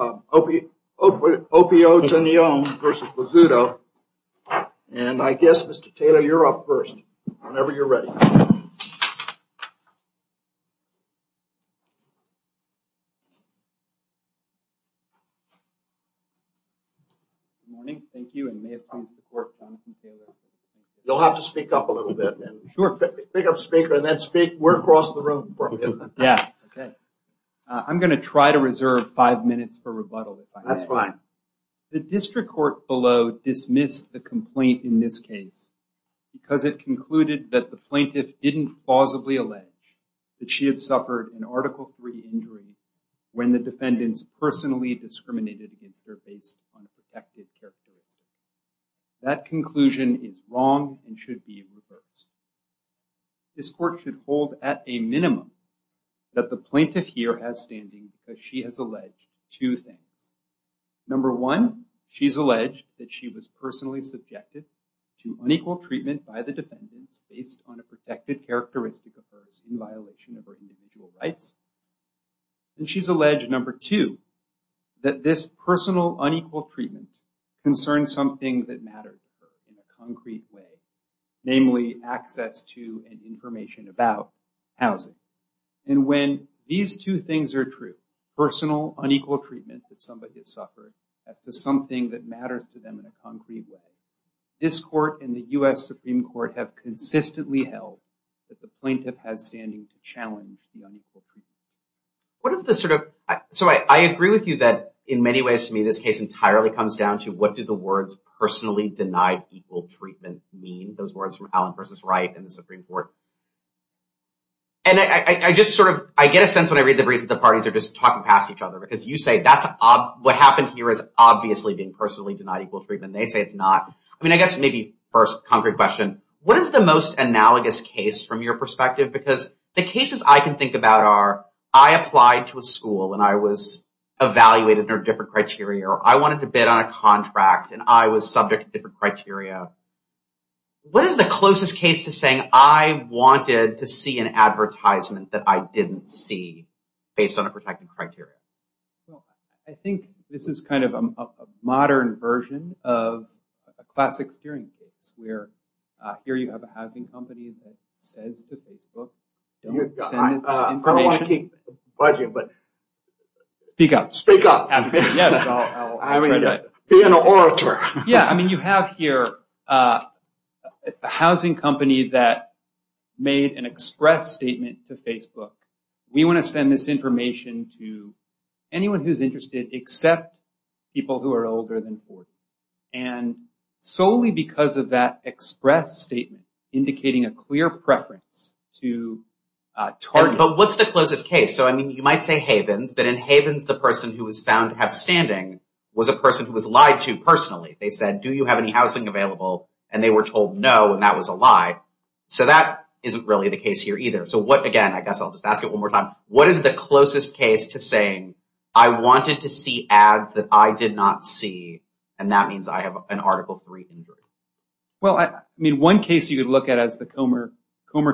and I guess Mr. Taylor, you're up first, whenever you're ready. You'll have to speak up a little bit. Pick up speaker and then speak. We're across the room. I'm going to try to reserve five minutes for rebuttal. That's fine. The district court below dismissed the complaint in this case because it concluded that the plaintiff didn't plausibly allege that she had suffered an Article III injury when the defendants personally discriminated against her based on a protective characteristic. That conclusion is wrong and should be reversed. This court should hold at a minimum that the plaintiff here has standing because she has alleged two things. Number one, she's alleged that she was personally subjected to unequal treatment by the defendants based on a protective characteristic of hers in violation of her individual rights. She's alleged number two, that this personal unequal treatment concerns something that matters to her in a concrete way, namely access to and information about housing. When these two things are true, personal unequal treatment that somebody has suffered as to something that matters to them in a concrete way, this court and the U.S. Supreme Court have consistently held that the plaintiff has standing to challenge the unequal treatment. I agree with you that in many ways to me this case entirely comes down to what do the words personally denied equal treatment mean, those words from Allen versus Wright and the Supreme Court. I get a sense when I read the briefs that the parties are just talking past each other because you say what happened here is obviously being personally denied equal treatment. They say it's not. I guess maybe first concrete question, what is the most analogous case from your perspective? Because the cases I can think about are I applied to a school and I was evaluated under different criteria or I wanted to bid on a contract and I was subject to different criteria. What is the closest case to saying I wanted to see an advertisement that I didn't see based on a protective criteria? I think this is kind of a modern version of a classic hearing case where here you have a housing company that says to Facebook don't send this information. I don't want to keep budget, but speak up. Speak up. Yes, I will. Be an orator. Yeah, I mean you have here a housing company that made an express statement to Facebook. We want to send this information to anyone who's interested except people who are older than 40. And solely because of that express statement indicating a clear preference to target. But what's the closest case? So I mean you might say Havens, but in Havens the person who was found to have standing was a person who was lied to personally. They said do you have any housing available? And they were told no and that was a lie. So that isn't really the case here either. So again, I guess I'll just ask it one more time. What is the closest case to saying I wanted to see ads that I did not see and that means I have an Article III injury? Well, I mean one case you could look at is the Comer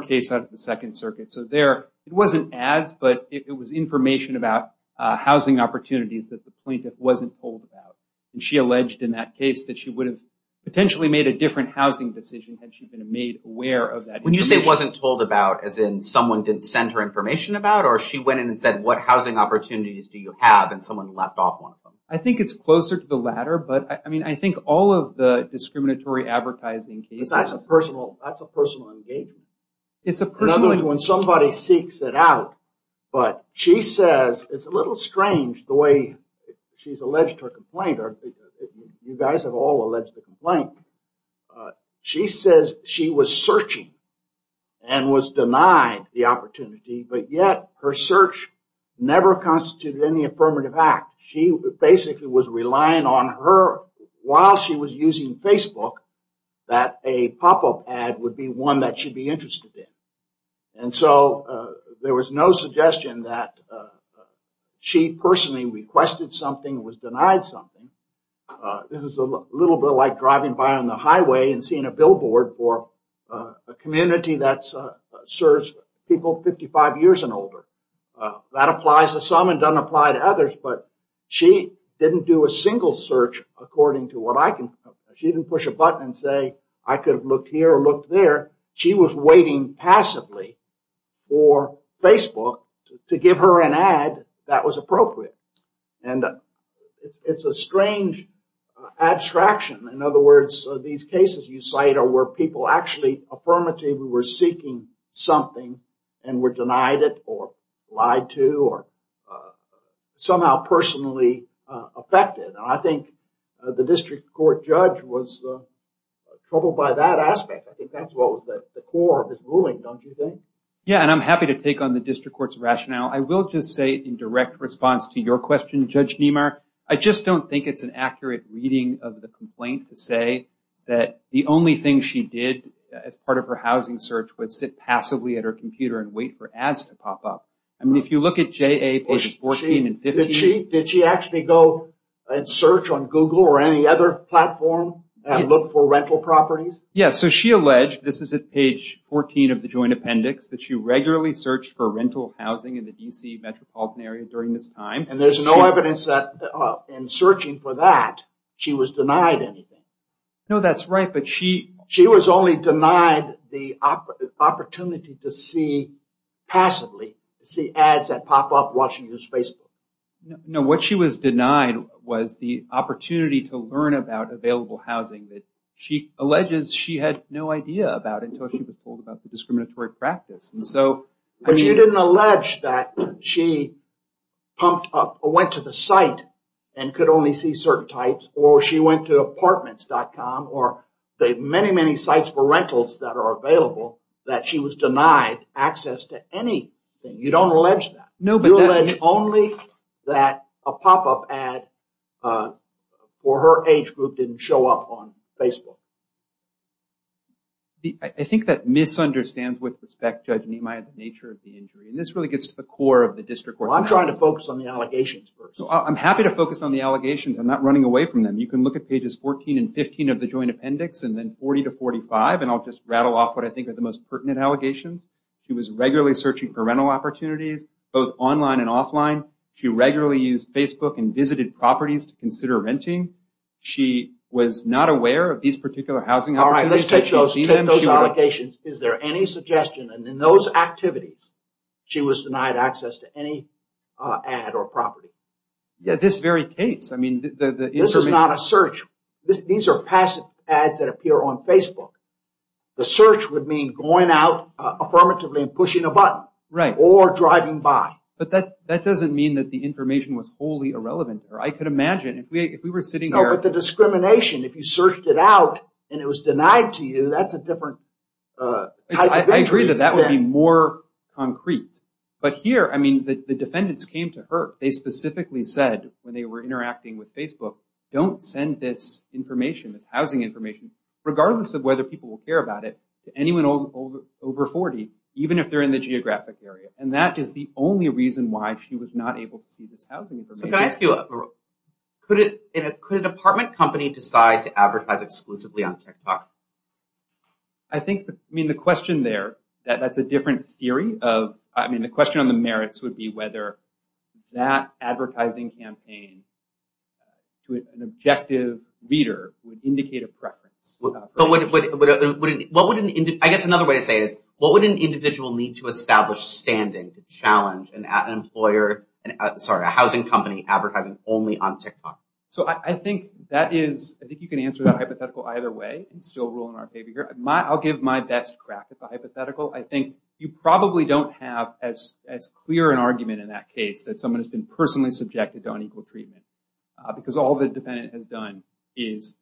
case out of the Second Circuit. So there it wasn't ads, but it was information about housing opportunities that the plaintiff wasn't told about. And she alleged in that case that she would have potentially made a different housing decision had she been made aware of that information. When you say wasn't told about as in someone did send her information about or she went in and said what housing opportunities do you have and someone left off one of them? I think it's closer to the latter, but I mean I think all of the discriminatory advertising cases. That's a personal engagement. When somebody seeks it out, but she says it's a little strange the way she's alleged her complaint. You guys have all alleged the complaint. She says she was searching and was denied the opportunity, but yet her search never constituted any affirmative act. She basically was relying on her while she was using Facebook that a pop-up ad would be one that she'd be interested in. And so there was no suggestion that she personally requested something was denied something. This is a little bit like driving by on the highway and seeing a billboard for a community that serves people 55 years and older. That applies to some and doesn't apply to others, but she didn't do a single search according to what I can. She didn't push a button and say I could have looked here or looked there. She was waiting passively for Facebook to give her an ad that was appropriate. And it's a strange abstraction. In other words, these cases you cite are where people actually affirmatively were seeking something and were denied it or lied to or somehow personally affected. I think the district court judge was troubled by that aspect. I think that's what was at the core of his ruling, don't you think? Yeah, and I'm happy to take on the district court's rationale. I will just say in direct response to your question, Judge Niemeyer, I just don't think it's an accurate reading of the complaint to say that the only thing she did as part of her housing search was sit passively at her computer and wait for ads to pop up. I mean, if you look at J.A. pages 14 and 15. Did she actually go and search on Google or any other platform and look for rental properties? Yeah, so she alleged, this is at page 14 of the joint appendix, that she regularly searched for rental housing in the D.C. metropolitan area during this time. And there's no evidence that in searching for that, she was denied anything. No, that's right. But she was only denied the opportunity to see passively, to see ads that pop up while she uses Facebook. No, what she was denied was the opportunity to learn about available housing that she alleges she had no idea about until she was told about the discriminatory practice. But you didn't allege that she went to the site and could only see certain types or she went to apartments.com or the many, many sites for rentals that are available, that she was denied access to anything. You don't allege that. You allege only that a pop up ad for her age group didn't show up on Facebook. I think that misunderstands, with respect, Judge Nimai, the nature of the injury. And this really gets to the core of the district court's analysis. Well, I'm trying to focus on the allegations first. I'm happy to focus on the allegations. I'm not running away from them. You can look at pages 14 and 15 of the joint appendix and then 40 to 45, and I'll just rattle off what I think are the most pertinent allegations. She was regularly searching for rental opportunities, both online and offline. She regularly used Facebook and visited properties to consider renting. She was not aware of these particular housing opportunities. All right, let's take those allegations. Is there any suggestion in those activities she was denied access to any ad or property? Yeah, this very case. This is not a search. These are passive ads that appear on Facebook. The search would mean going out affirmatively and pushing a button or driving by. But that doesn't mean that the information was wholly irrelevant. No, but the discrimination, if you searched it out and it was denied to you, that's a different type of injury. I agree that that would be more concrete. But here, I mean, the defendants came to her. They specifically said, when they were interacting with Facebook, don't send this information, this housing information, regardless of whether people will care about it, to anyone over 40, even if they're in the geographic area. And that is the only reason why she was not able to see this housing information. So can I ask you, could a department company decide to advertise exclusively on TikTok? I think, I mean, the question there, that's a different theory. I mean, the question on the merits would be whether that advertising campaign to an objective reader would indicate a preference. I guess another way to say it is, what would an individual need to establish standing to challenge an employer, sorry, a housing company advertising only on TikTok? So I think that is, I think you can answer that hypothetical either way and still rule in our favor here. I'll give my best crack at the hypothetical. I think you probably don't have as clear an argument in that case that someone has been personally subjected to unequal treatment, because all the defendant has done is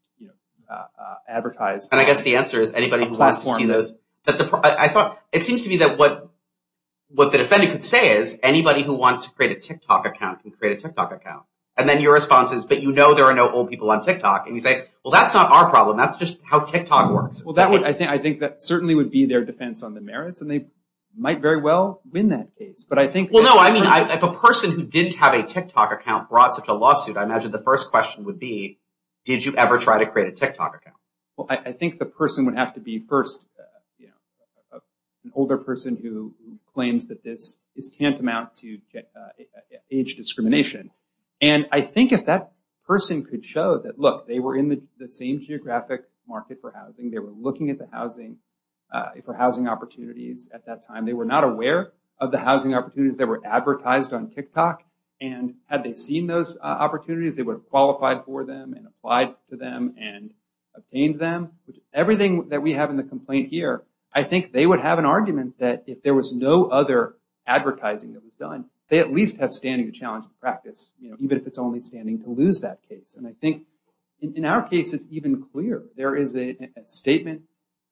advertise. And I guess the answer is anybody who wants to see those. I thought it seems to me that what the defendant could say is anybody who wants to create a TikTok account can create a TikTok account. And then your response is, but you know there are no old people on TikTok. And you say, well, that's not our problem. That's just how TikTok works. Well, I think that certainly would be their defense on the merits. And they might very well win that case. But I think. Well, no, I mean, if a person who didn't have a TikTok account brought such a lawsuit, I imagine the first question would be, did you ever try to create a TikTok account? Well, I think the person would have to be first, you know, an older person who claims that this is tantamount to age discrimination. And I think if that person could show that, look, they were in the same geographic market for housing. They were looking at the housing for housing opportunities at that time. They were not aware of the housing opportunities that were advertised on TikTok. And had they seen those opportunities, they would have qualified for them and applied to them and obtained them. Everything that we have in the complaint here, I think they would have an argument that if there was no other advertising that was done, they at least have standing to challenge practice, even if it's only standing to lose that case. And I think in our case, it's even clearer. There is a statement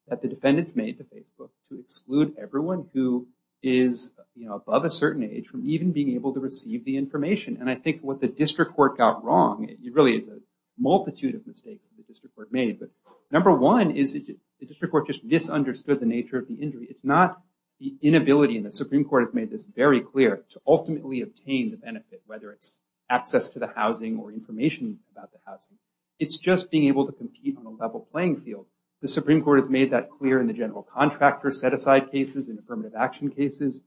that the defendants made to Facebook to exclude everyone who is above a certain age from even being able to receive the information. And I think what the district court got wrong, it really is a multitude of mistakes that the district court made. But number one is that the district court just misunderstood the nature of the injury. It's not the inability, and the Supreme Court has made this very clear, to ultimately obtain the benefit, whether it's access to the housing or information about the housing. It's just being able to compete on a level playing field. The Supreme Court has made that clear in the general contractor set-aside cases and affirmative action cases.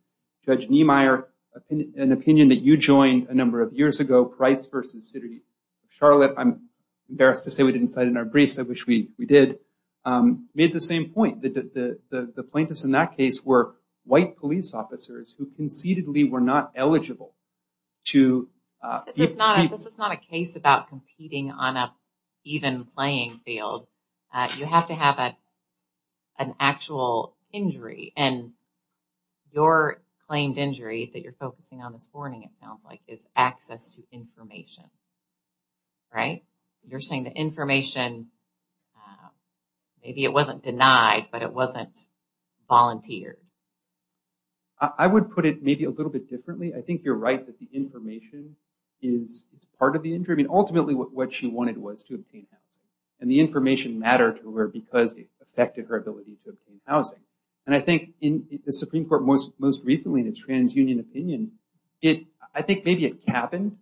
Judge Niemeyer, an opinion that you joined a number of years ago, Price v. City of Charlotte. I'm embarrassed to say we didn't cite it in our briefs. I wish we did. Made the same point. The plaintiffs in that case were white police officers who concededly were not eligible to compete. This is not a case about competing on an even playing field. You have to have an actual injury. And your claimed injury that you're focusing on this morning, it sounds like, is access to information. Right? You're saying the information, maybe it wasn't denied, but it wasn't volunteered. I would put it maybe a little bit differently. I think you're right that the information is part of the injury. Ultimately, what she wanted was to obtain housing. And the information mattered to her because it affected her ability to obtain housing. And I think in the Supreme Court most recently in a trans-union opinion, I think maybe it happened,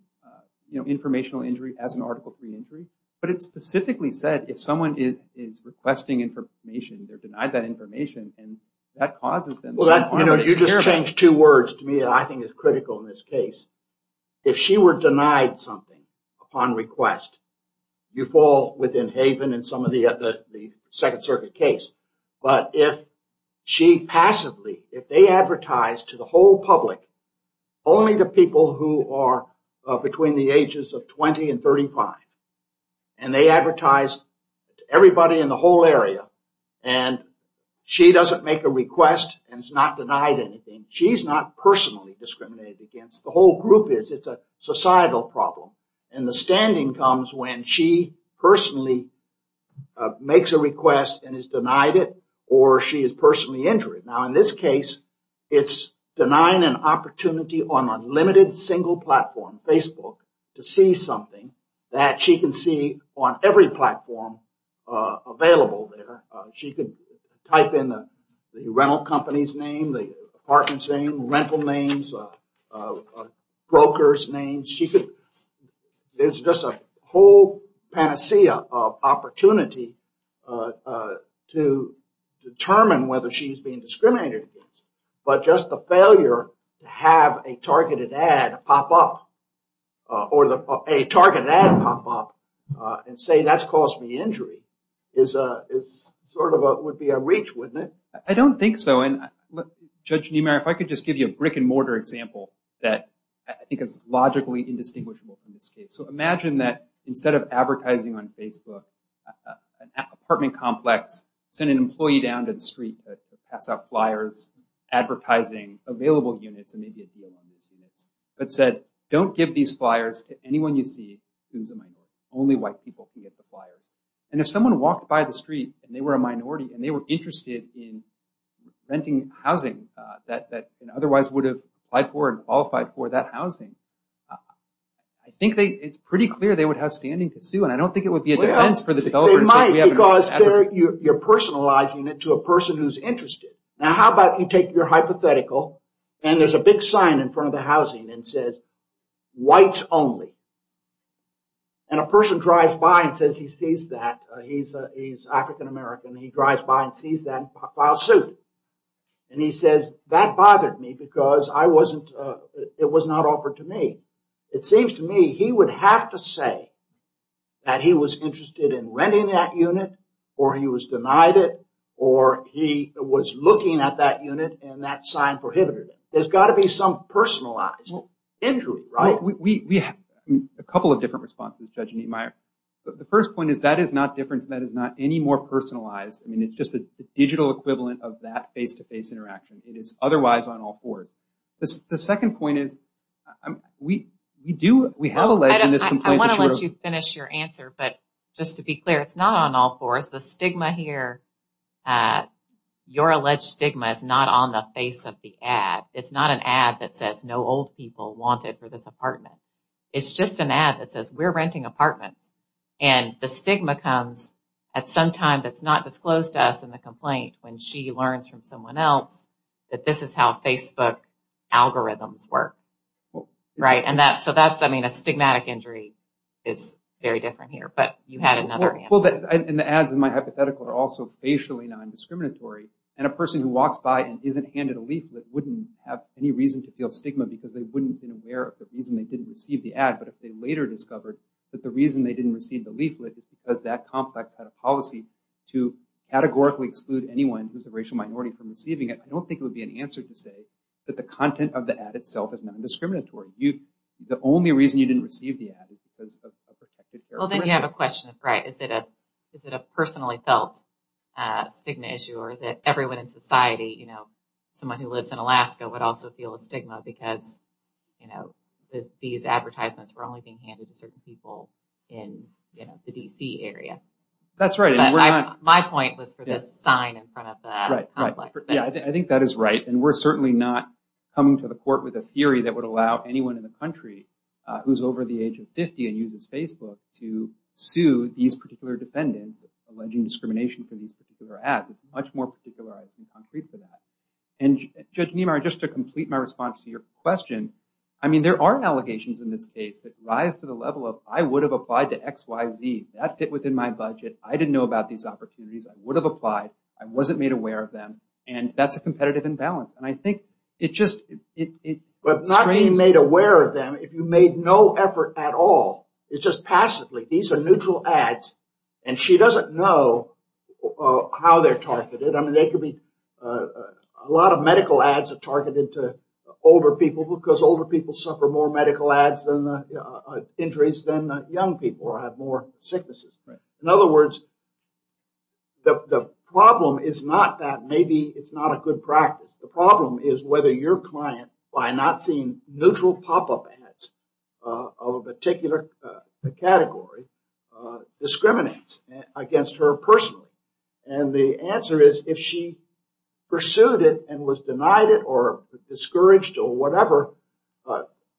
informational injury as an Article III injury. But it specifically said if someone is requesting information, they're denied that information, and that causes them some harm. You just changed two words to me that I think is critical in this case. If she were denied something upon request, you fall within haven in some of the Second Circuit case. But if she passively, if they advertise to the whole public, only to people who are between the ages of 20 and 35, and they advertise to everybody in the whole area, and she doesn't make a request and is not denied anything. She's not personally discriminated against. The whole group is. It's a societal problem. And the standing comes when she personally makes a request and is denied it, or she is personally injured. Now, in this case, it's denying an opportunity on a limited single platform, Facebook, to see something that she can see on every platform available. She could type in the rental company's name, the apartment's name, rental names, broker's names. There's just a whole panacea of opportunity to determine whether she's being discriminated against. But just the failure to have a targeted ad pop up or a targeted ad pop up and say that's caused me injury would be a reach, wouldn't it? I don't think so. Judge Niemeyer, if I could just give you a brick-and-mortar example that I think is logically indistinguishable from this case. Imagine that instead of advertising on Facebook, an apartment complex sent an employee down to the street to pass out flyers advertising available units and maybe a deal on those units, but said don't give these flyers to anyone you see who's a minority. Only white people can get the flyers. And if someone walked by the street and they were a minority and they were interested in renting housing that otherwise would have applied for and qualified for that housing, I think it's pretty clear they would have standing to sue. And I don't think it would be a defense for the developers. They might because you're personalizing it to a person who's interested. Now, how about you take your hypothetical and there's a big sign in front of the housing that says whites only. And a person drives by and says he sees that. He's African-American. He drives by and sees that and files suit. And he says that bothered me because I wasn't, it was not offered to me. It seems to me he would have to say that he was interested in renting that unit or he was denied it or he was looking at that unit and that sign prohibited it. There's got to be some personalized injury, right? We have a couple of different responses, Judge Niemeyer. The first point is that is not different and that is not any more personalized. I mean, it's just a digital equivalent of that face-to-face interaction. It is otherwise on all fours. The second point is we do, we have alleged in this complaint. I want to let you finish your answer. But just to be clear, it's not on all fours. It's not an ad that says no old people wanted for this apartment. It's just an ad that says we're renting an apartment. And the stigma comes at some time that's not disclosed to us in the complaint when she learns from someone else that this is how Facebook algorithms work. Right? And so that's, I mean, a stigmatic injury is very different here. But you had another answer. Well, and the ads in my hypothetical are also facially non-discriminatory. And a person who walks by and isn't handed a leaflet wouldn't have any reason to feel stigma because they wouldn't have been aware of the reason they didn't receive the ad. But if they later discovered that the reason they didn't receive the leaflet is because that complex policy to categorically exclude anyone who's a racial minority from receiving it, I don't think it would be an answer to say that the content of the ad itself is non-discriminatory. The only reason you didn't receive the ad is because of a protected characteristic. Well, then you have a question of, right, is it a personally felt stigma issue or is it everyone in society, you know, someone who lives in Alaska would also feel a stigma because, you know, these advertisements were only being handed to certain people in, you know, the D.C. area. That's right. My point was for the sign in front of the complex. Yeah, I think that is right. And we're certainly not coming to the court with a theory that would allow anyone in the country who's over the age of 50 and uses Facebook to sue these particular defendants alleging discrimination for these particular ads. It's much more particularized and concrete for that. And Judge Niemeyer, just to complete my response to your question, I mean, there are allegations in this case that rise to the level of I would have applied to XYZ. That fit within my budget. I didn't know about these opportunities. I would have applied. I wasn't made aware of them. And that's a competitive imbalance. And I think it just it. But not being made aware of them. If you made no effort at all, it's just passively. These are neutral ads. And she doesn't know how they're targeted. I mean, they could be a lot of medical ads are targeted to older people because older people suffer more medical ads and injuries than young people have more sicknesses. In other words. The problem is not that maybe it's not a good practice. The problem is whether your client, by not seeing neutral pop up ads of a particular category, discriminates against her personally. And the answer is if she pursued it and was denied it or discouraged or whatever.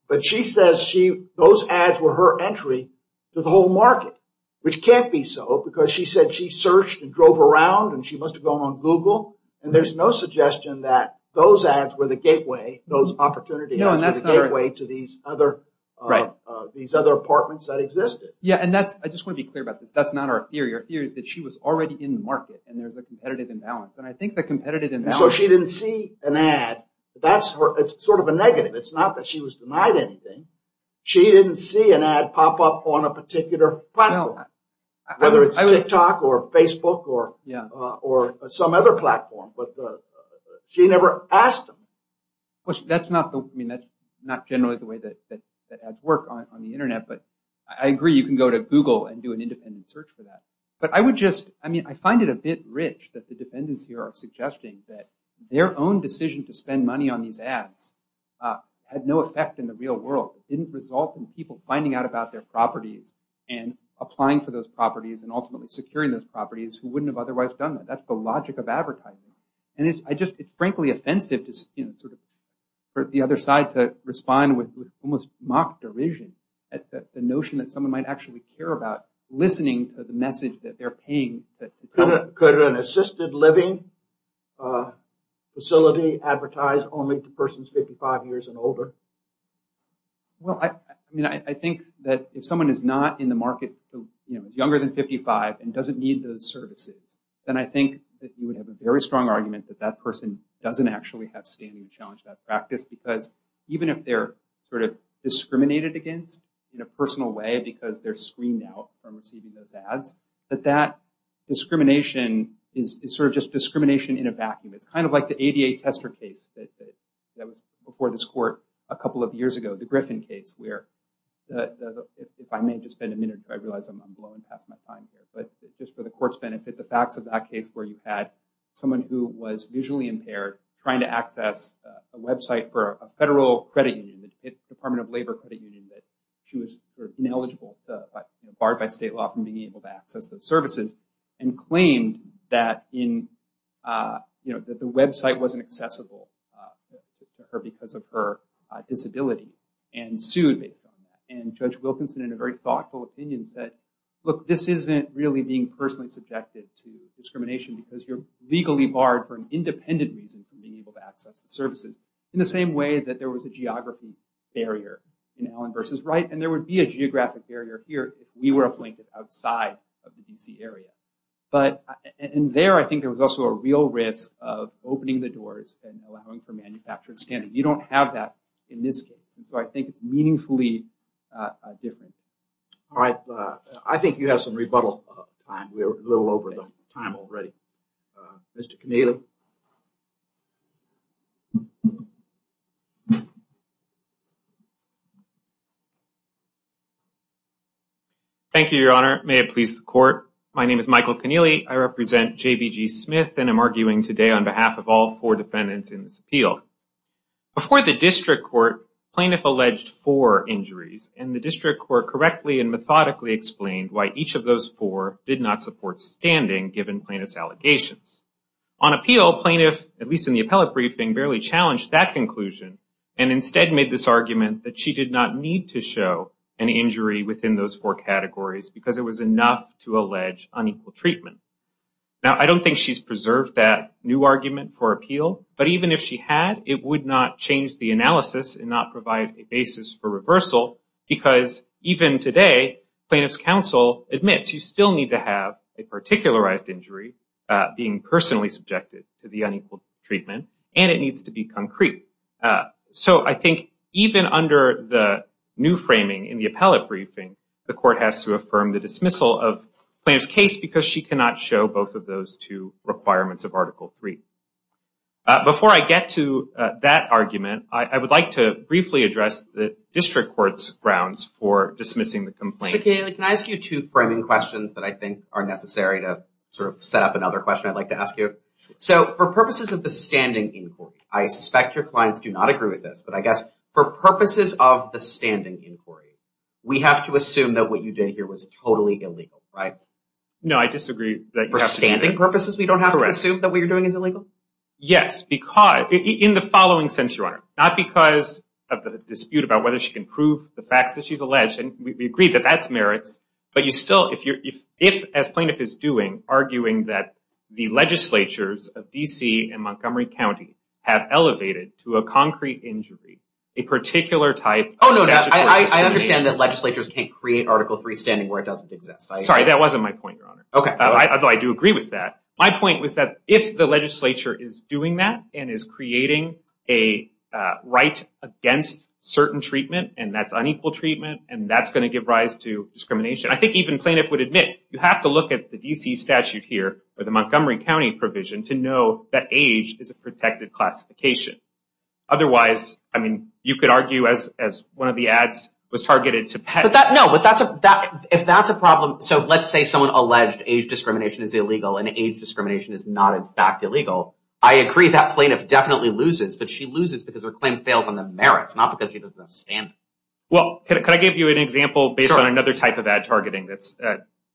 But she says she those ads were her entry to the whole market, which can't be so because she said she searched and drove around and she must have gone on Google. And there's no suggestion that those ads were the gateway, those opportunity. And that's the gateway to these other. Right. These other apartments that existed. Yeah. And that's I just want to be clear about this. That's not our theory. Our theory is that she was already in the market and there's a competitive imbalance. And I think the competitive imbalance. So she didn't see an ad. That's sort of a negative. It's not that she was denied anything. She didn't see an ad pop up on a particular platform, whether it's TikTok or Facebook or some other platform. But she never asked. Well, that's not I mean, that's not generally the way that ads work on the Internet. But I agree. You can go to Google and do an independent search for that. But I would just I mean, I find it a bit rich that the defendants here are suggesting that their own decision to spend money on these ads had no effect in the real world. It didn't result in people finding out about their properties and applying for those properties and ultimately securing those properties who wouldn't have otherwise done that. That's the logic of advertising. And it's frankly offensive to sort of the other side to respond with almost mock derision at the notion that someone might actually care about listening to the message that they're paying. Could an assisted living facility advertise only to persons 55 years and older? Well, I mean, I think that if someone is not in the market younger than 55 and doesn't need those services, then I think that you would have a very strong argument that that person doesn't actually have standing challenge that practice, because even if they're sort of discriminated against in a personal way because they're screened out from receiving those ads, that that discrimination is sort of just discrimination in a vacuum. It's kind of like the ADA tester case that was before this court a couple of years ago, the Griffin case, where if I may just spend a minute, I realize I'm blowing past my time here, but just for the court's benefit, the facts of that case where you had someone who was visually impaired trying to access a website for a federal credit union, the Department of Labor credit union, that she was sort of ineligible, barred by state law from being able to access those services, and claimed that the website wasn't accessible to her because of her disability, and sued based on that. And Judge Wilkinson, in a very thoughtful opinion, said, look, this isn't really being personally subjected to discrimination, because you're legally barred for an independent reason from being able to access the services, in the same way that there was a geography barrier in Allen v. Wright, and there would be a geographic barrier here if we were a blanket outside of the D.C. area. But in there, I think there was also a real risk of opening the doors and allowing for manufactured scanning. You don't have that in this case. And so I think it's meaningfully different. All right. I think you have some rebuttal time. We're a little over time already. Mr. Keneally. Thank you, Your Honor. May it please the court. My name is Michael Keneally. I represent J.B.G. Smith and I'm arguing today on behalf of all four defendants in this appeal. Before the district court, plaintiff alleged four injuries, and the district court correctly and methodically explained why each of those four did not support standing, given plaintiff's allegations. On appeal, plaintiff, at least in the appellate briefing, barely challenged that conclusion, and instead made this argument that she did not need to show an injury within those four categories, because it was enough to allege unequal treatment. Now, I don't think she's preserved that new argument for appeal, but even if she had, it would not change the analysis and not provide a basis for reversal, because even today, plaintiff's counsel admits you still need to have a particularized injury, being personally subjected to the unequal treatment, and it needs to be concrete. So I think even under the new framing in the appellate briefing, the court has to affirm the dismissal of plaintiff's case, because she cannot show both of those two requirements of Article III. Before I get to that argument, I would like to briefly address the district court's grounds for dismissing the complaint. Mr. Keneally, can I ask you two framing questions that I think are necessary to sort of set up another question I'd like to ask you? So for purposes of the standing inquiry, I suspect your clients do not agree with this, but I guess for purposes of the standing inquiry, we have to assume that what you did here was totally illegal, right? No, I disagree. For standing purposes, we don't have to assume that what you're doing is illegal? Yes, because in the following sense, Your Honor, not because of the dispute about whether she can prove the facts that she's alleged, and we agree that that's merits, but you still, if as plaintiff is doing, arguing that the legislatures of D.C. and Montgomery County have elevated to a concrete injury a particular type of statutory discrimination. Oh, no, no, I understand that legislatures can't create Article III standing where it doesn't exist. Sorry, that wasn't my point, Your Honor. Okay. Although I do agree with that. My point was that if the legislature is doing that and is creating a right against certain treatment, and that's unequal treatment, and that's going to give rise to discrimination, I think even plaintiff would admit you have to look at the D.C. statute here or the Montgomery County provision to know that age is a protected classification. Otherwise, I mean, you could argue as one of the ads was targeted to pets. No, but if that's a problem, so let's say someone alleged age discrimination is illegal and age discrimination is not, in fact, illegal. I agree that plaintiff definitely loses, but she loses because her claim fails on the merits, not because she doesn't understand it. Well, can I give you an example based on another type of ad targeting that's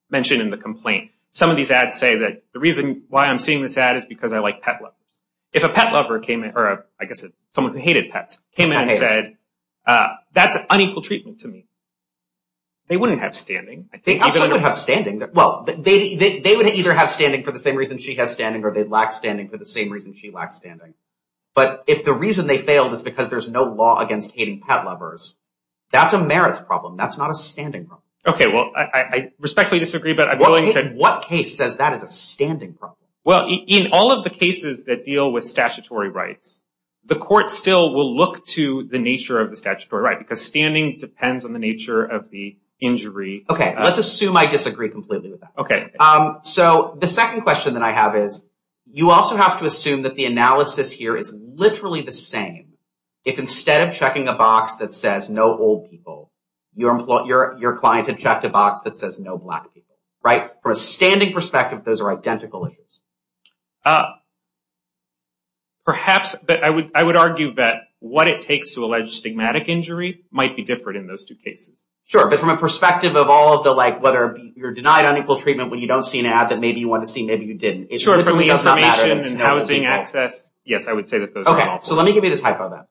mentioned in the complaint? Some of these ads say that the reason why I'm seeing this ad is because I like pet lovers. If a pet lover came in, or I guess someone who hated pets came in and said, that's unequal treatment to me, they wouldn't have standing. They absolutely would have standing. Well, they would either have standing for the same reason she has standing or they lack standing for the same reason she lacks standing. But if the reason they failed is because there's no law against hating pet lovers, that's a merits problem. That's not a standing problem. Okay, well, I respectfully disagree, but I'm willing to. What case says that is a standing problem? Well, in all of the cases that deal with statutory rights, the court still will look to the nature of the statutory right because standing depends on the nature of the injury. Okay, let's assume I disagree completely with that. Okay. So the second question that I have is, you also have to assume that the analysis here is literally the same. If instead of checking a box that says no old people, your client had checked a box that says no black people, right? From a standing perspective, those are identical issues. Perhaps, but I would argue that what it takes to allege stigmatic injury might be different in those two cases. Sure, but from a perspective of all of the, like, whether you're denied unequal treatment when you don't see an ad that maybe you want to see, maybe you didn't. Sure, from the information and housing access, yes, I would say that those are identical. Okay, so let me give you this hypo then,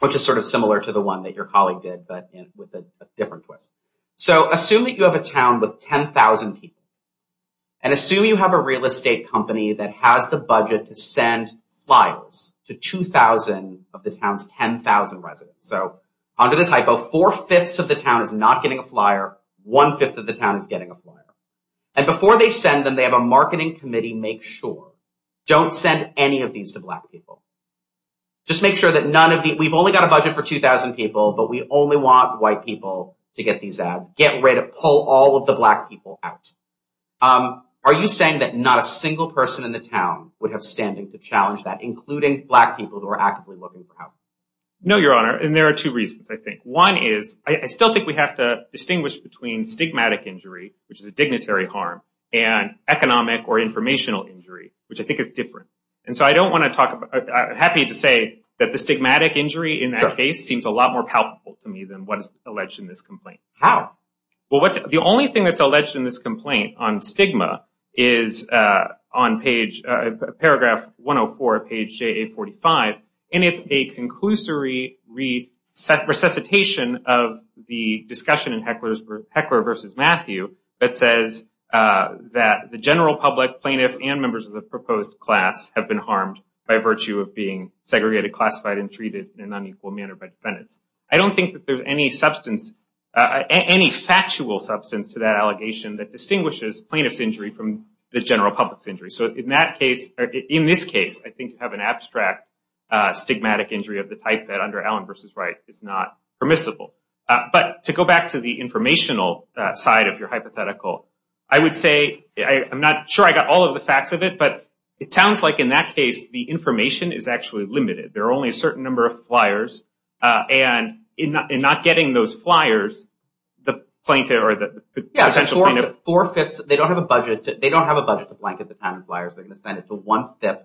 which is sort of similar to the one that your colleague did, but with a different twist. So assume that you have a town with 10,000 people, and assume you have a real estate company that has the budget to send flyers to 2,000 of the town's 10,000 residents. So under this hypo, four-fifths of the town is not getting a flyer, one-fifth of the town is getting a flyer. And before they send them, they have a marketing committee make sure, don't send any of these to black people. Just make sure that none of the, we've only got a budget for 2,000 people, but we only want white people to get these ads. Get ready to pull all of the black people out. Are you saying that not a single person in the town would have standing to challenge that, including black people who are actively looking for housing? No, Your Honor, and there are two reasons, I think. One is, I still think we have to distinguish between stigmatic injury, which is a dignitary harm, and economic or informational injury, which I think is different. And so I don't want to talk about, I'm happy to say that the stigmatic injury in that case seems a lot more palpable to me than what is alleged in this complaint. How? Well, the only thing that's alleged in this complaint on stigma is on page, paragraph 104 of page JA45, and it's a conclusory resuscitation of the discussion in Heckler v. Matthew that says that the general public, plaintiffs, and members of the proposed class have been harmed by virtue of being segregated, classified, and treated in an unequal manner by defendants. I don't think that there's any factual substance to that allegation that distinguishes plaintiff's injury from the general public's injury. So in this case, I think you have an abstract stigmatic injury of the type that under Allen v. Wright is not permissible. But to go back to the informational side of your hypothetical, I would say, I'm not sure I got all of the facts of it, but it sounds like in that case, the information is actually limited. There are only a certain number of flyers, and in not getting those flyers, the plaintiff or the potential plaintiff… Yeah, four-fifths, they don't have a budget to blanket the kind of flyers. They're going to send it to one-fifth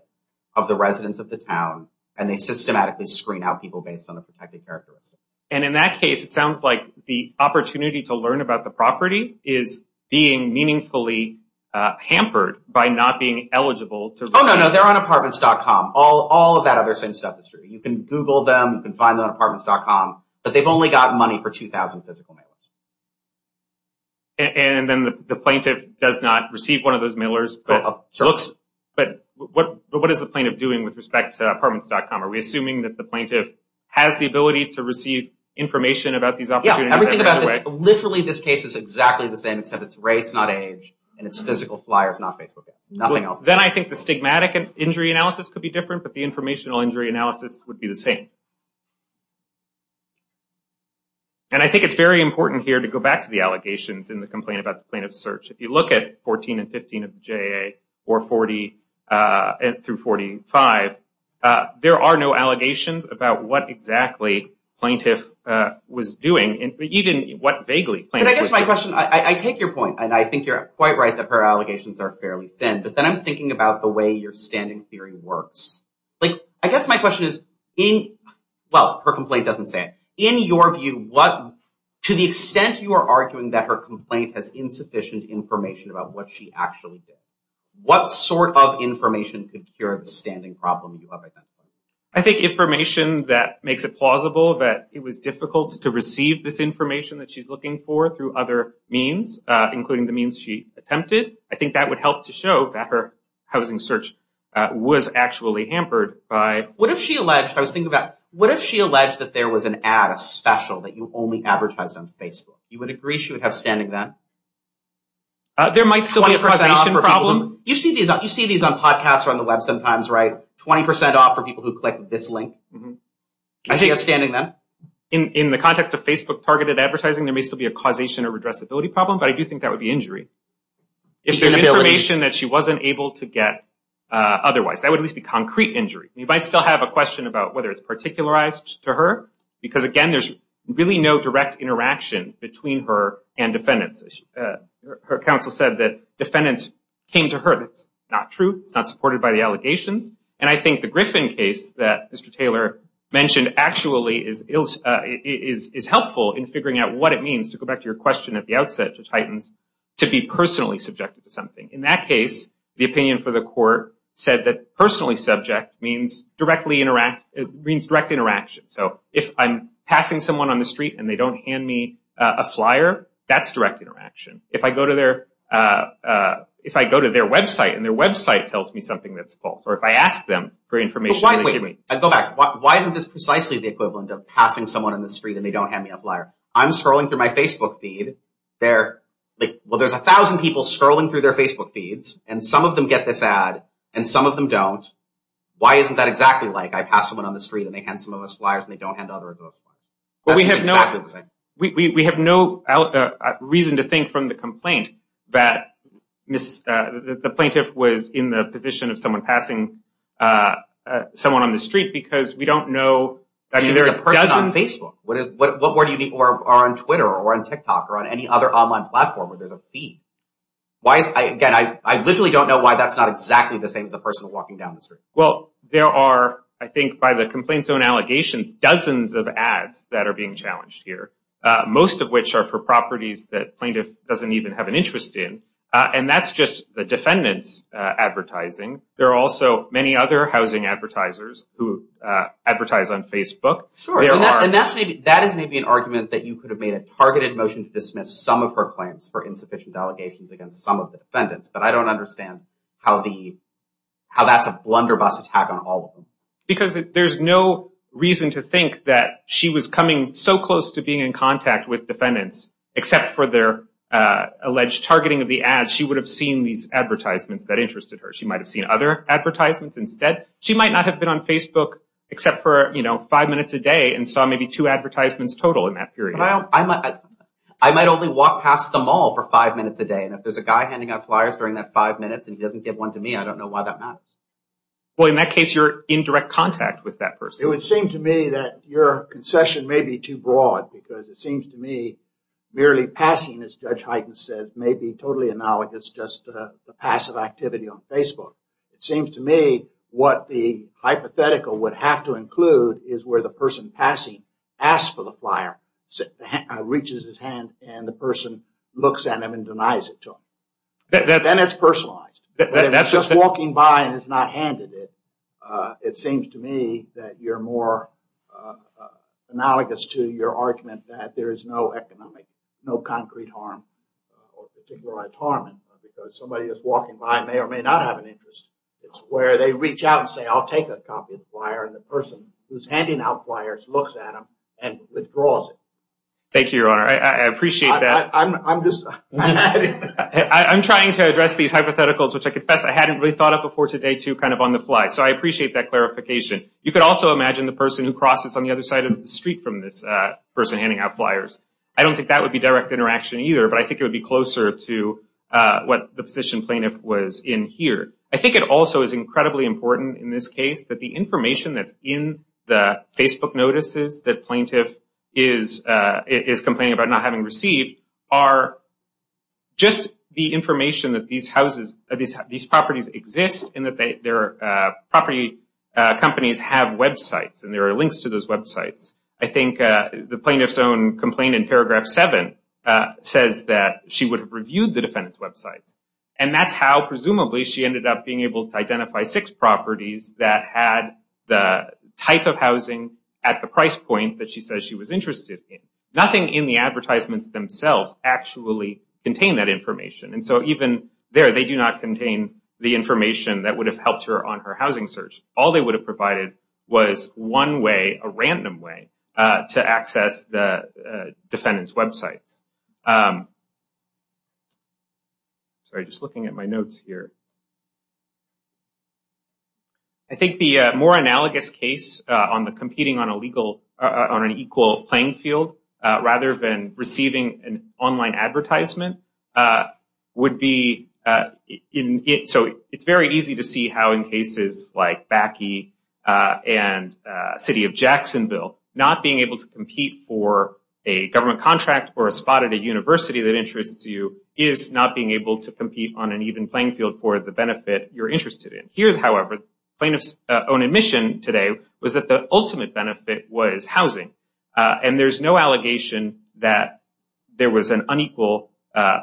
of the residents of the town, and they systematically screen out people based on the protected characteristics. And in that case, it sounds like the opportunity to learn about the property is being meaningfully hampered by not being eligible to… Oh, no, no. They're on apartments.com. All of that other same stuff is true. You can Google them. You can find them on apartments.com. But they've only got money for 2,000 physical mailers. And then the plaintiff does not receive one of those mailers. But what is the plaintiff doing with respect to apartments.com? Are we assuming that the plaintiff has the ability to receive information about these opportunities? Yeah, everything about this – literally, this case is exactly the same, except it's race, not age, and it's physical flyers, not Facebook ads. Nothing else. Then I think the stigmatic injury analysis could be different, but the informational injury analysis would be the same. And I think it's very important here to go back to the allegations in the complaint about the plaintiff's search. If you look at 14 and 15 of the JAA, or 40 through 45, there are no allegations about what exactly plaintiff was doing, even what vaguely plaintiff was doing. And I guess my question – I take your point, and I think you're quite right that her allegations are fairly thin. But then I'm thinking about the way your standing theory works. I guess my question is – well, her complaint doesn't say it. In your view, to the extent you are arguing that her complaint has insufficient information about what she actually did, what sort of information could cure the standing problem you have identified? I think information that makes it plausible that it was difficult to receive this information that she's looking for through other means, including the means she attempted. I think that would help to show that her housing search was actually hampered by… What if she alleged – I was thinking about – what if she alleged that there was an ad, a special, that you only advertised on Facebook? You would agree she would have standing then? There might still be a causation problem. You see these on podcasts or on the web sometimes, right? People who click this link. She has standing then? In the context of Facebook-targeted advertising, there may still be a causation or redressability problem, but I do think that would be injury. If there's information that she wasn't able to get otherwise, that would at least be concrete injury. You might still have a question about whether it's particularized to her. Because, again, there's really no direct interaction between her and defendants. Her counsel said that defendants came to her. That's not true. It's not supported by the allegations. And I think the Griffin case that Mr. Taylor mentioned actually is helpful in figuring out what it means – to go back to your question at the outset to Titans – to be personally subjected to something. In that case, the opinion for the court said that personally subject means direct interaction. So if I'm passing someone on the street and they don't hand me a flyer, that's direct interaction. If I go to their website and their website tells me something that's false, or if I ask them for information… Wait, go back. Why isn't this precisely the equivalent of passing someone on the street and they don't hand me a flyer? I'm scrolling through my Facebook feed. Well, there's 1,000 people scrolling through their Facebook feeds, and some of them get this ad and some of them don't. Why isn't that exactly like I pass someone on the street and they hand some of us flyers and they don't hand others those flyers? We have no reason to think from the complaint that the plaintiff was in the position of someone passing someone on the street because we don't know… It's a person on Facebook. Or on Twitter or on TikTok or on any other online platform where there's a feed. Again, I literally don't know why that's not exactly the same as a person walking down the street. Well, there are, I think, by the complaint's own allegations, dozens of ads that are being challenged here, most of which are for properties that plaintiff doesn't even have an interest in. And that's just the defendant's advertising. There are also many other housing advertisers who advertise on Facebook. Sure. And that is maybe an argument that you could have made a targeted motion to dismiss some of her claims for insufficient allegations against some of the defendants. But I don't understand how that's a blunderbuss attack on all of them. Because there's no reason to think that she was coming so close to being in contact with defendants, except for their alleged targeting of the ads, she would have seen these advertisements that interested her. She might have seen other advertisements instead. She might not have been on Facebook except for five minutes a day and saw maybe two advertisements total in that period. I might only walk past the mall for five minutes a day. And if there's a guy handing out flyers during that five minutes and he doesn't give one to me, I don't know why that matters. Well, in that case, you're in direct contact with that person. It would seem to me that your concession may be too broad because it seems to me merely passing, as Judge Hyten said, may be totally analogous just to the passive activity on Facebook. It seems to me what the hypothetical would have to include is where the person passing asks for the flyer, reaches his hand, and the person looks at him and denies it to him. Then it's personalized. But if he's just walking by and has not handed it, it seems to me that you're more analogous to your argument that there is no economic, no concrete harm or particularized harm because somebody is walking by and may or may not have an interest. It's where they reach out and say, I'll take a copy of the flyer. And the person who's handing out flyers looks at him and withdraws it. Thank you, Your Honor. I appreciate that. I'm trying to address these hypotheticals, which I confess I hadn't really thought of before today, too, kind of on the fly. So I appreciate that clarification. You could also imagine the person who crosses on the other side of the street from this person handing out flyers. I don't think that would be direct interaction either, but I think it would be closer to what the position plaintiff was in here. I think it also is incredibly important in this case that the information that's in the Facebook notices that plaintiff is complaining about not having received are just the information that these properties exist and that their property companies have websites and there are links to those websites. I think the plaintiff's own complaint in paragraph 7 says that she would have reviewed the defendant's websites. And that's how, presumably, she ended up being able to identify six properties that had the type of housing at the price point that she says she was interested in. Nothing in the advertisements themselves actually contain that information. And so even there, they do not contain the information that would have helped her on her housing search. All they would have provided was one way, a random way, to access the defendant's websites. Sorry, just looking at my notes here. I think the more analogous case on the competing on an equal playing field rather than receiving an online advertisement would be it's very easy to see how in cases like Bakke and City of Jacksonville, not being able to compete for a government contract or a spot at a university that interests you is not being able to compete on an even playing field for the benefit you're interested in. Here, however, the plaintiff's own admission today was that the ultimate benefit was housing. And there's no allegation that there was an unequal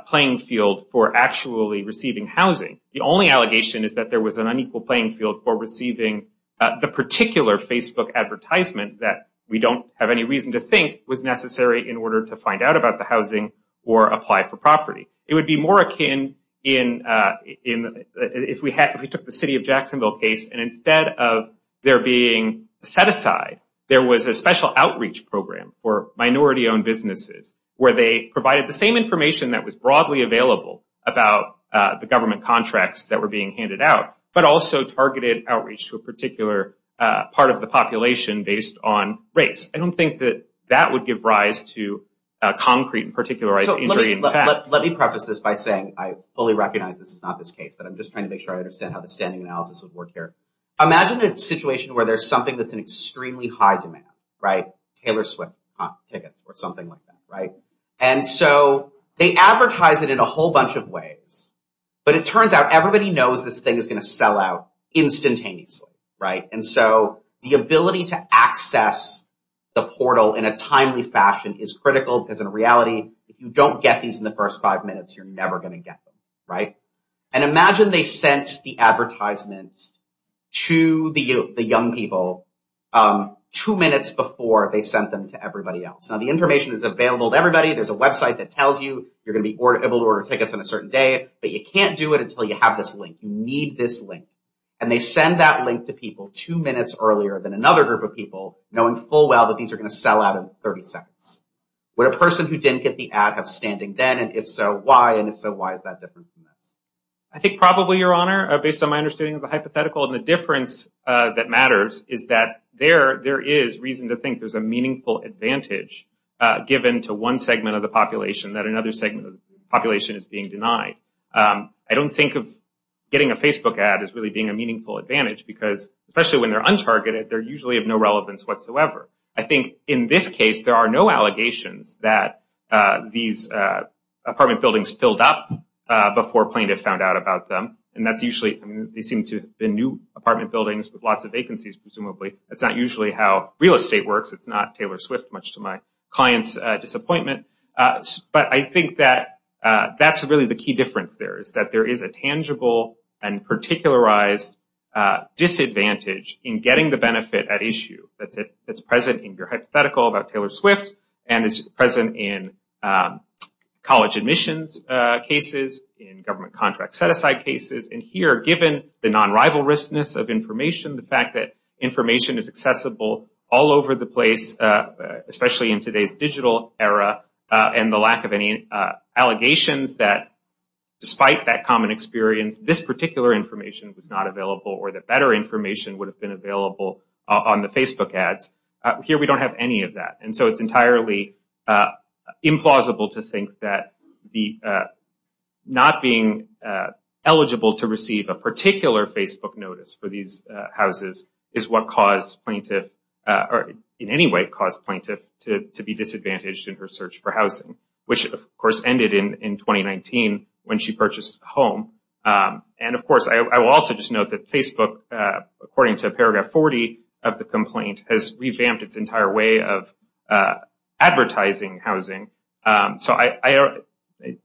playing field for actually receiving housing. The only allegation is that there was an unequal playing field for receiving the particular Facebook advertisement that we don't have any reason to think was necessary in order to find out about the housing or apply for property. It would be more akin if we took the City of Jacksonville case and instead of there being set aside, there was a special outreach program for minority-owned businesses where they provided the same information that was broadly available about the government contracts that were being handed out, but also targeted outreach to a particular part of the population based on race. I don't think that that would give rise to concrete and particularized injury in fact. Let me preface this by saying I fully recognize this is not this case, but I'm just trying to make sure I understand how the standing analysis would work here. Imagine a situation where there's something that's in extremely high demand, right? Taylor Swift tickets or something like that, right? And so they advertise it in a whole bunch of ways, but it turns out everybody knows this thing is going to sell out instantaneously, right? And so the ability to access the portal in a timely fashion is critical because in reality, if you don't get these in the first five minutes, you're never going to get them, right? And imagine they sent the advertisements to the young people two minutes before they sent them to everybody else. Now, the information is available to everybody. There's a website that tells you you're going to be able to order tickets on a certain day, but you can't do it until you have this link. You need this link. And they send that link to people two minutes earlier than another group of people, knowing full well that these are going to sell out in 30 seconds. Would a person who didn't get the ad have standing then? And if so, why? And if so, why is that different from this? I think probably, Your Honor, based on my understanding of the hypothetical, and the difference that matters is that there is reason to think there's a meaningful advantage given to one segment of the population that another segment of the population is being denied. I don't think of getting a Facebook ad as really being a meaningful advantage, because especially when they're untargeted, they're usually of no relevance whatsoever. I think in this case, there are no allegations that these apartment buildings filled up before plaintiffs found out about them. And that's usually the new apartment buildings with lots of vacancies, presumably. That's not usually how real estate works. It's not Taylor Swift, much to my client's disappointment. But I think that that's really the key difference there, is that there is a tangible and particularized disadvantage in getting the benefit at issue that's present in your hypothetical about Taylor Swift, and is present in college admissions cases, in government contract set-aside cases. And here, given the non-rivalrousness of information, the fact that information is accessible all over the place, especially in today's digital era, and the lack of any allegations that, despite that common experience, this particular information was not available, or that better information would have been available on the Facebook ads, here we don't have any of that. And so it's entirely implausible to think that not being eligible to receive a particular Facebook notice for these houses is what caused plaintiff, or in any way caused plaintiff, to be disadvantaged in her search for housing, which, of course, ended in 2019 when she purchased a home. And, of course, I will also just note that Facebook, according to paragraph 40 of the complaint, has revamped its entire way of advertising housing. So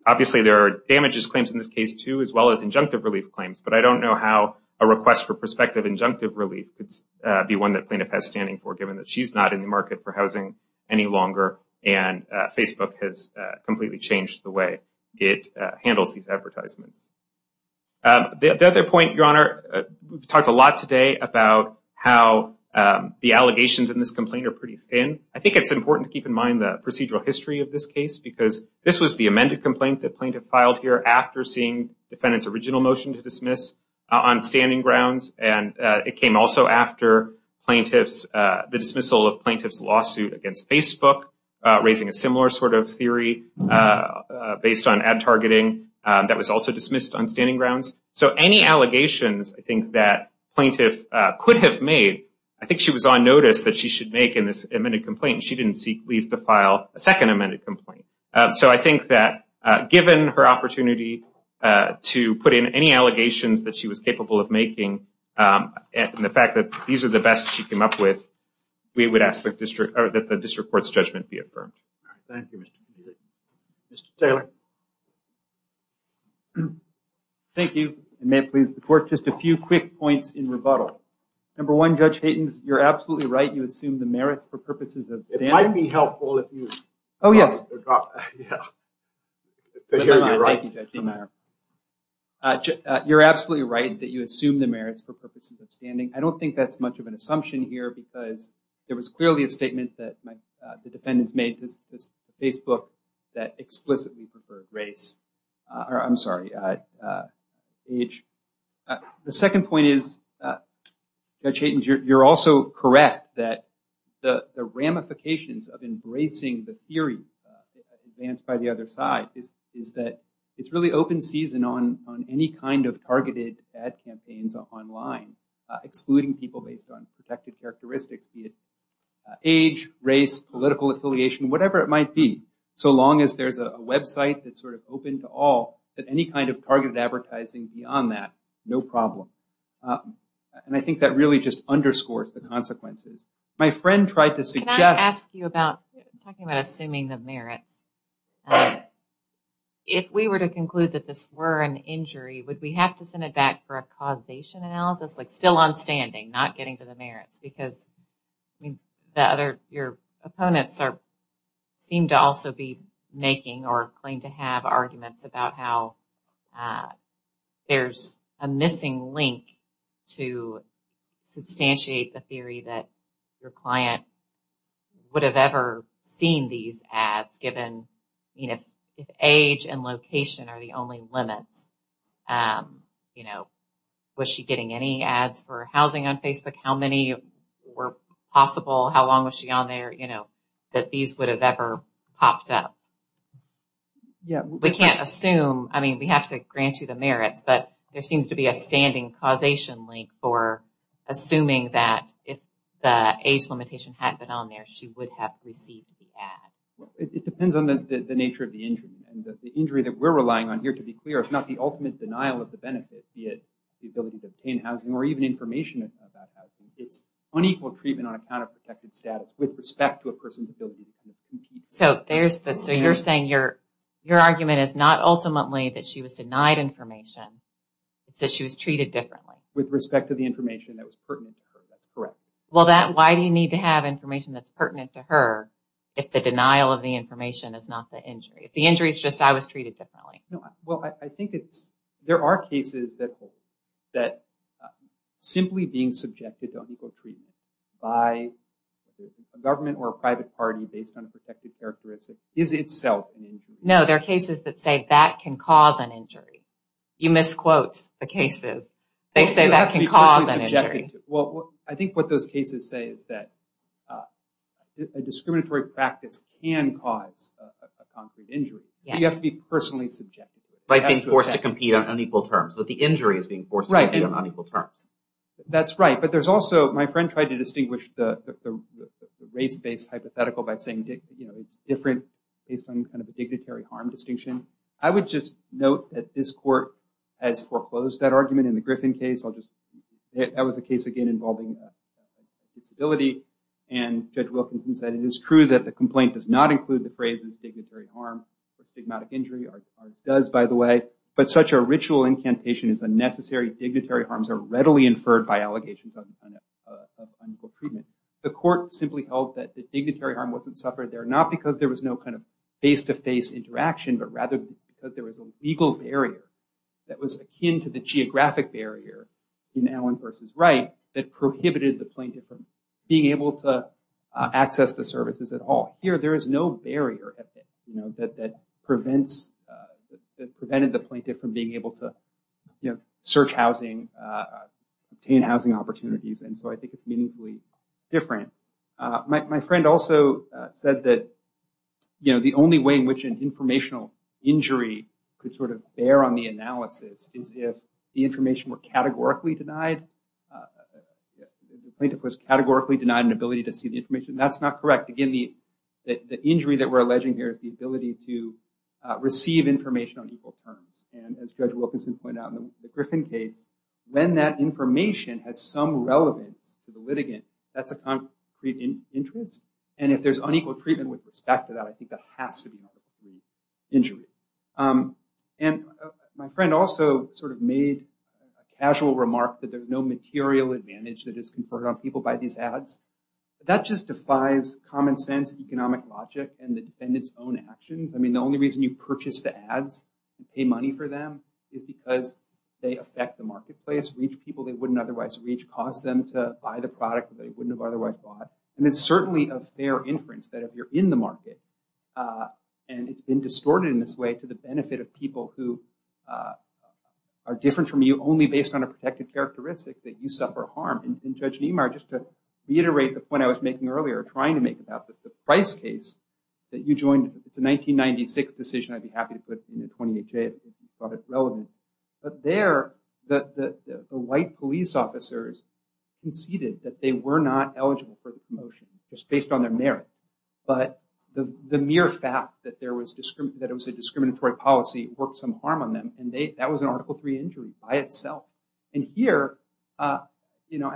obviously there are damages claims in this case, too, as well as injunctive relief claims. But I don't know how a request for prospective injunctive relief could be one that plaintiff has standing for, given that she's not in the market for housing any longer, and Facebook has completely changed the way it handles these advertisements. The other point, Your Honor, we've talked a lot today about how the allegations in this complaint are pretty thin. I think it's important to keep in mind the procedural history of this case, because this was the amended complaint that plaintiff filed here after seeing defendant's original motion to dismiss on standing grounds. And it came also after the dismissal of plaintiff's lawsuit against Facebook, raising a similar sort of theory based on ad targeting that was also dismissed on standing grounds. So any allegations, I think, that plaintiff could have made, I think she was on notice that she should make in this amended complaint. She didn't leave the file a second amended complaint. So I think that given her opportunity to put in any allegations that she was capable of making, and the fact that these are the best she came up with, we would ask that the district court's judgment be affirmed. Thank you, Mr. Taylor. Thank you, and may it please the court, just a few quick points in rebuttal. Number one, Judge Haytens, you're absolutely right. You assume the merits for purposes of standing. It might be helpful if you- Oh, yes. Thank you, Judge Haytens. You're absolutely right that you assume the merits for purposes of standing. I don't think that's much of an assumption here, because there was clearly a statement that the defendants made to Facebook that explicitly preferred race. I'm sorry, age. The second point is, Judge Haytens, you're also correct that the ramifications of embracing the theory advanced by the other side is that it's really open season on any kind of targeted ad campaigns online, excluding people based on protected characteristics, be it age, race, political affiliation, whatever it might be, so long as there's a website that's sort of open to all, that any kind of targeted advertising beyond that, no problem. I think that really just underscores the consequences. My friend tried to suggest- Can I ask you about, talking about assuming the merits, if we were to conclude that this were an injury, would we have to send it back for a causation analysis, like still on standing, not getting to the merits? Your opponents seem to also be making or claim to have arguments about how there's a missing link to substantiate the theory that your client would have ever seen these ads, given if age and location are the only limits. You know, was she getting any ads for housing on Facebook? How many were possible? How long was she on there? You know, that these would have ever popped up. We can't assume. I mean, we have to grant you the merits, but there seems to be a standing causation link for assuming that if the age limitation had been on there, she would have received the ad. It depends on the nature of the injury. The injury that we're relying on here, to be clear, is not the ultimate denial of the benefit, be it the ability to obtain housing or even information about housing. It's unequal treatment on account of protected status with respect to a person's ability to obtain housing. So you're saying your argument is not ultimately that she was denied information. It's that she was treated differently. With respect to the information that was pertinent to her. That's correct. Well, why do you need to have information that's pertinent to her if the denial of the information is not the injury? If the injury is just, I was treated differently. Well, I think there are cases that simply being subjected to unequal treatment by a government or a private party based on a protected characteristic is itself an injury. No, there are cases that say that can cause an injury. You misquote the cases. They say that can cause an injury. Well, I think what those cases say is that a discriminatory practice can cause a concrete injury. You have to be personally subjective. Like being forced to compete on unequal terms. The injury is being forced to compete on unequal terms. That's right. But there's also, my friend tried to distinguish the race-based hypothetical by saying it's different based on kind of a dignitary harm distinction. I would just note that this court has foreclosed that argument in the Griffin case. That was a case, again, involving disability. And Judge Wilkinson said it is true that the complaint does not include the phrases dignitary harm or stigmatic injury. Ours does, by the way. But such a ritual incantation is unnecessary. Dignitary harms are readily inferred by allegations of unequal treatment. The court simply held that the dignitary harm wasn't suffered there, not because there was no kind of face-to-face interaction, but rather because there was a legal barrier that was akin to the geographic barrier in Allen v. Wright that prohibited the plaintiff from being able to access the services at all. Here, there is no barrier that prevented the plaintiff from being able to search housing, obtain housing opportunities. And so I think it's meaningfully different. My friend also said that the only way in which an informational injury could sort of bear on the analysis is if the information were categorically denied. The plaintiff was categorically denied an ability to see the information. That's not correct. Again, the injury that we're alleging here is the ability to receive information on equal terms. And as Judge Wilkinson pointed out in the Griffin case, when that information has some relevance to the litigant, that's a concrete interest. And if there's unequal treatment with respect to that, I think that has to be an injury. And my friend also sort of made a casual remark that there's no material advantage that is conferred on people by these ads. That just defies common sense economic logic and the defendant's own actions. I mean, the only reason you purchase the ads and pay money for them is because they affect the marketplace, reach people they wouldn't otherwise reach, cause them to buy the product that they wouldn't have otherwise bought. And it's certainly a fair inference that if you're in the market, and it's been distorted in this way to the benefit of people who are different from you only based on a protected characteristic, that you suffer harm. And Judge Niemeyer, just to reiterate the point I was making earlier, or trying to make about the price case that you joined, it's a 1996 decision. I'd be happy to put it in the 20HA if you thought it relevant. But there, the white police officers conceded that they were not eligible for the promotion, just based on their merit. But the mere fact that it was a discriminatory policy worked some harm on them. And that was an Article III injury by itself. And here, and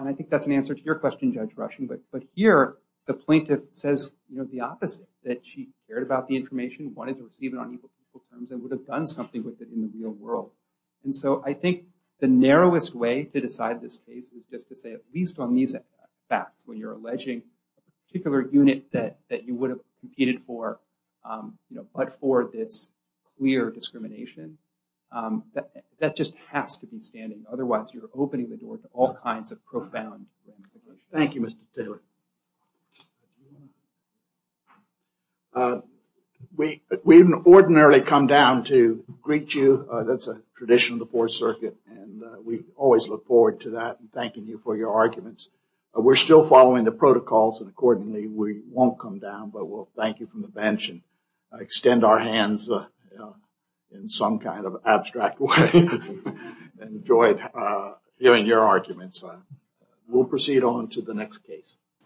I think that's an answer to your question, Judge Rushen, but here the plaintiff says the opposite, that she cared about the information, wanted to receive it on equal terms, and would have done something with it in the real world. And so I think the narrowest way to decide this case is just to say, at least on these facts, when you're alleging a particular unit that you would have competed for, but for this clear discrimination, that just has to be standing. Otherwise, you're opening the door to all kinds of profound damages. Thank you, Mr. Taylor. We didn't ordinarily come down to greet you. That's a tradition of the Fourth Circuit, and we always look forward to that and thanking you for your arguments. We're still following the protocols, and accordingly we won't come down, but we'll thank you from the bench and extend our hands in some kind of abstract way. Enjoyed hearing your arguments. We'll proceed on to the next case.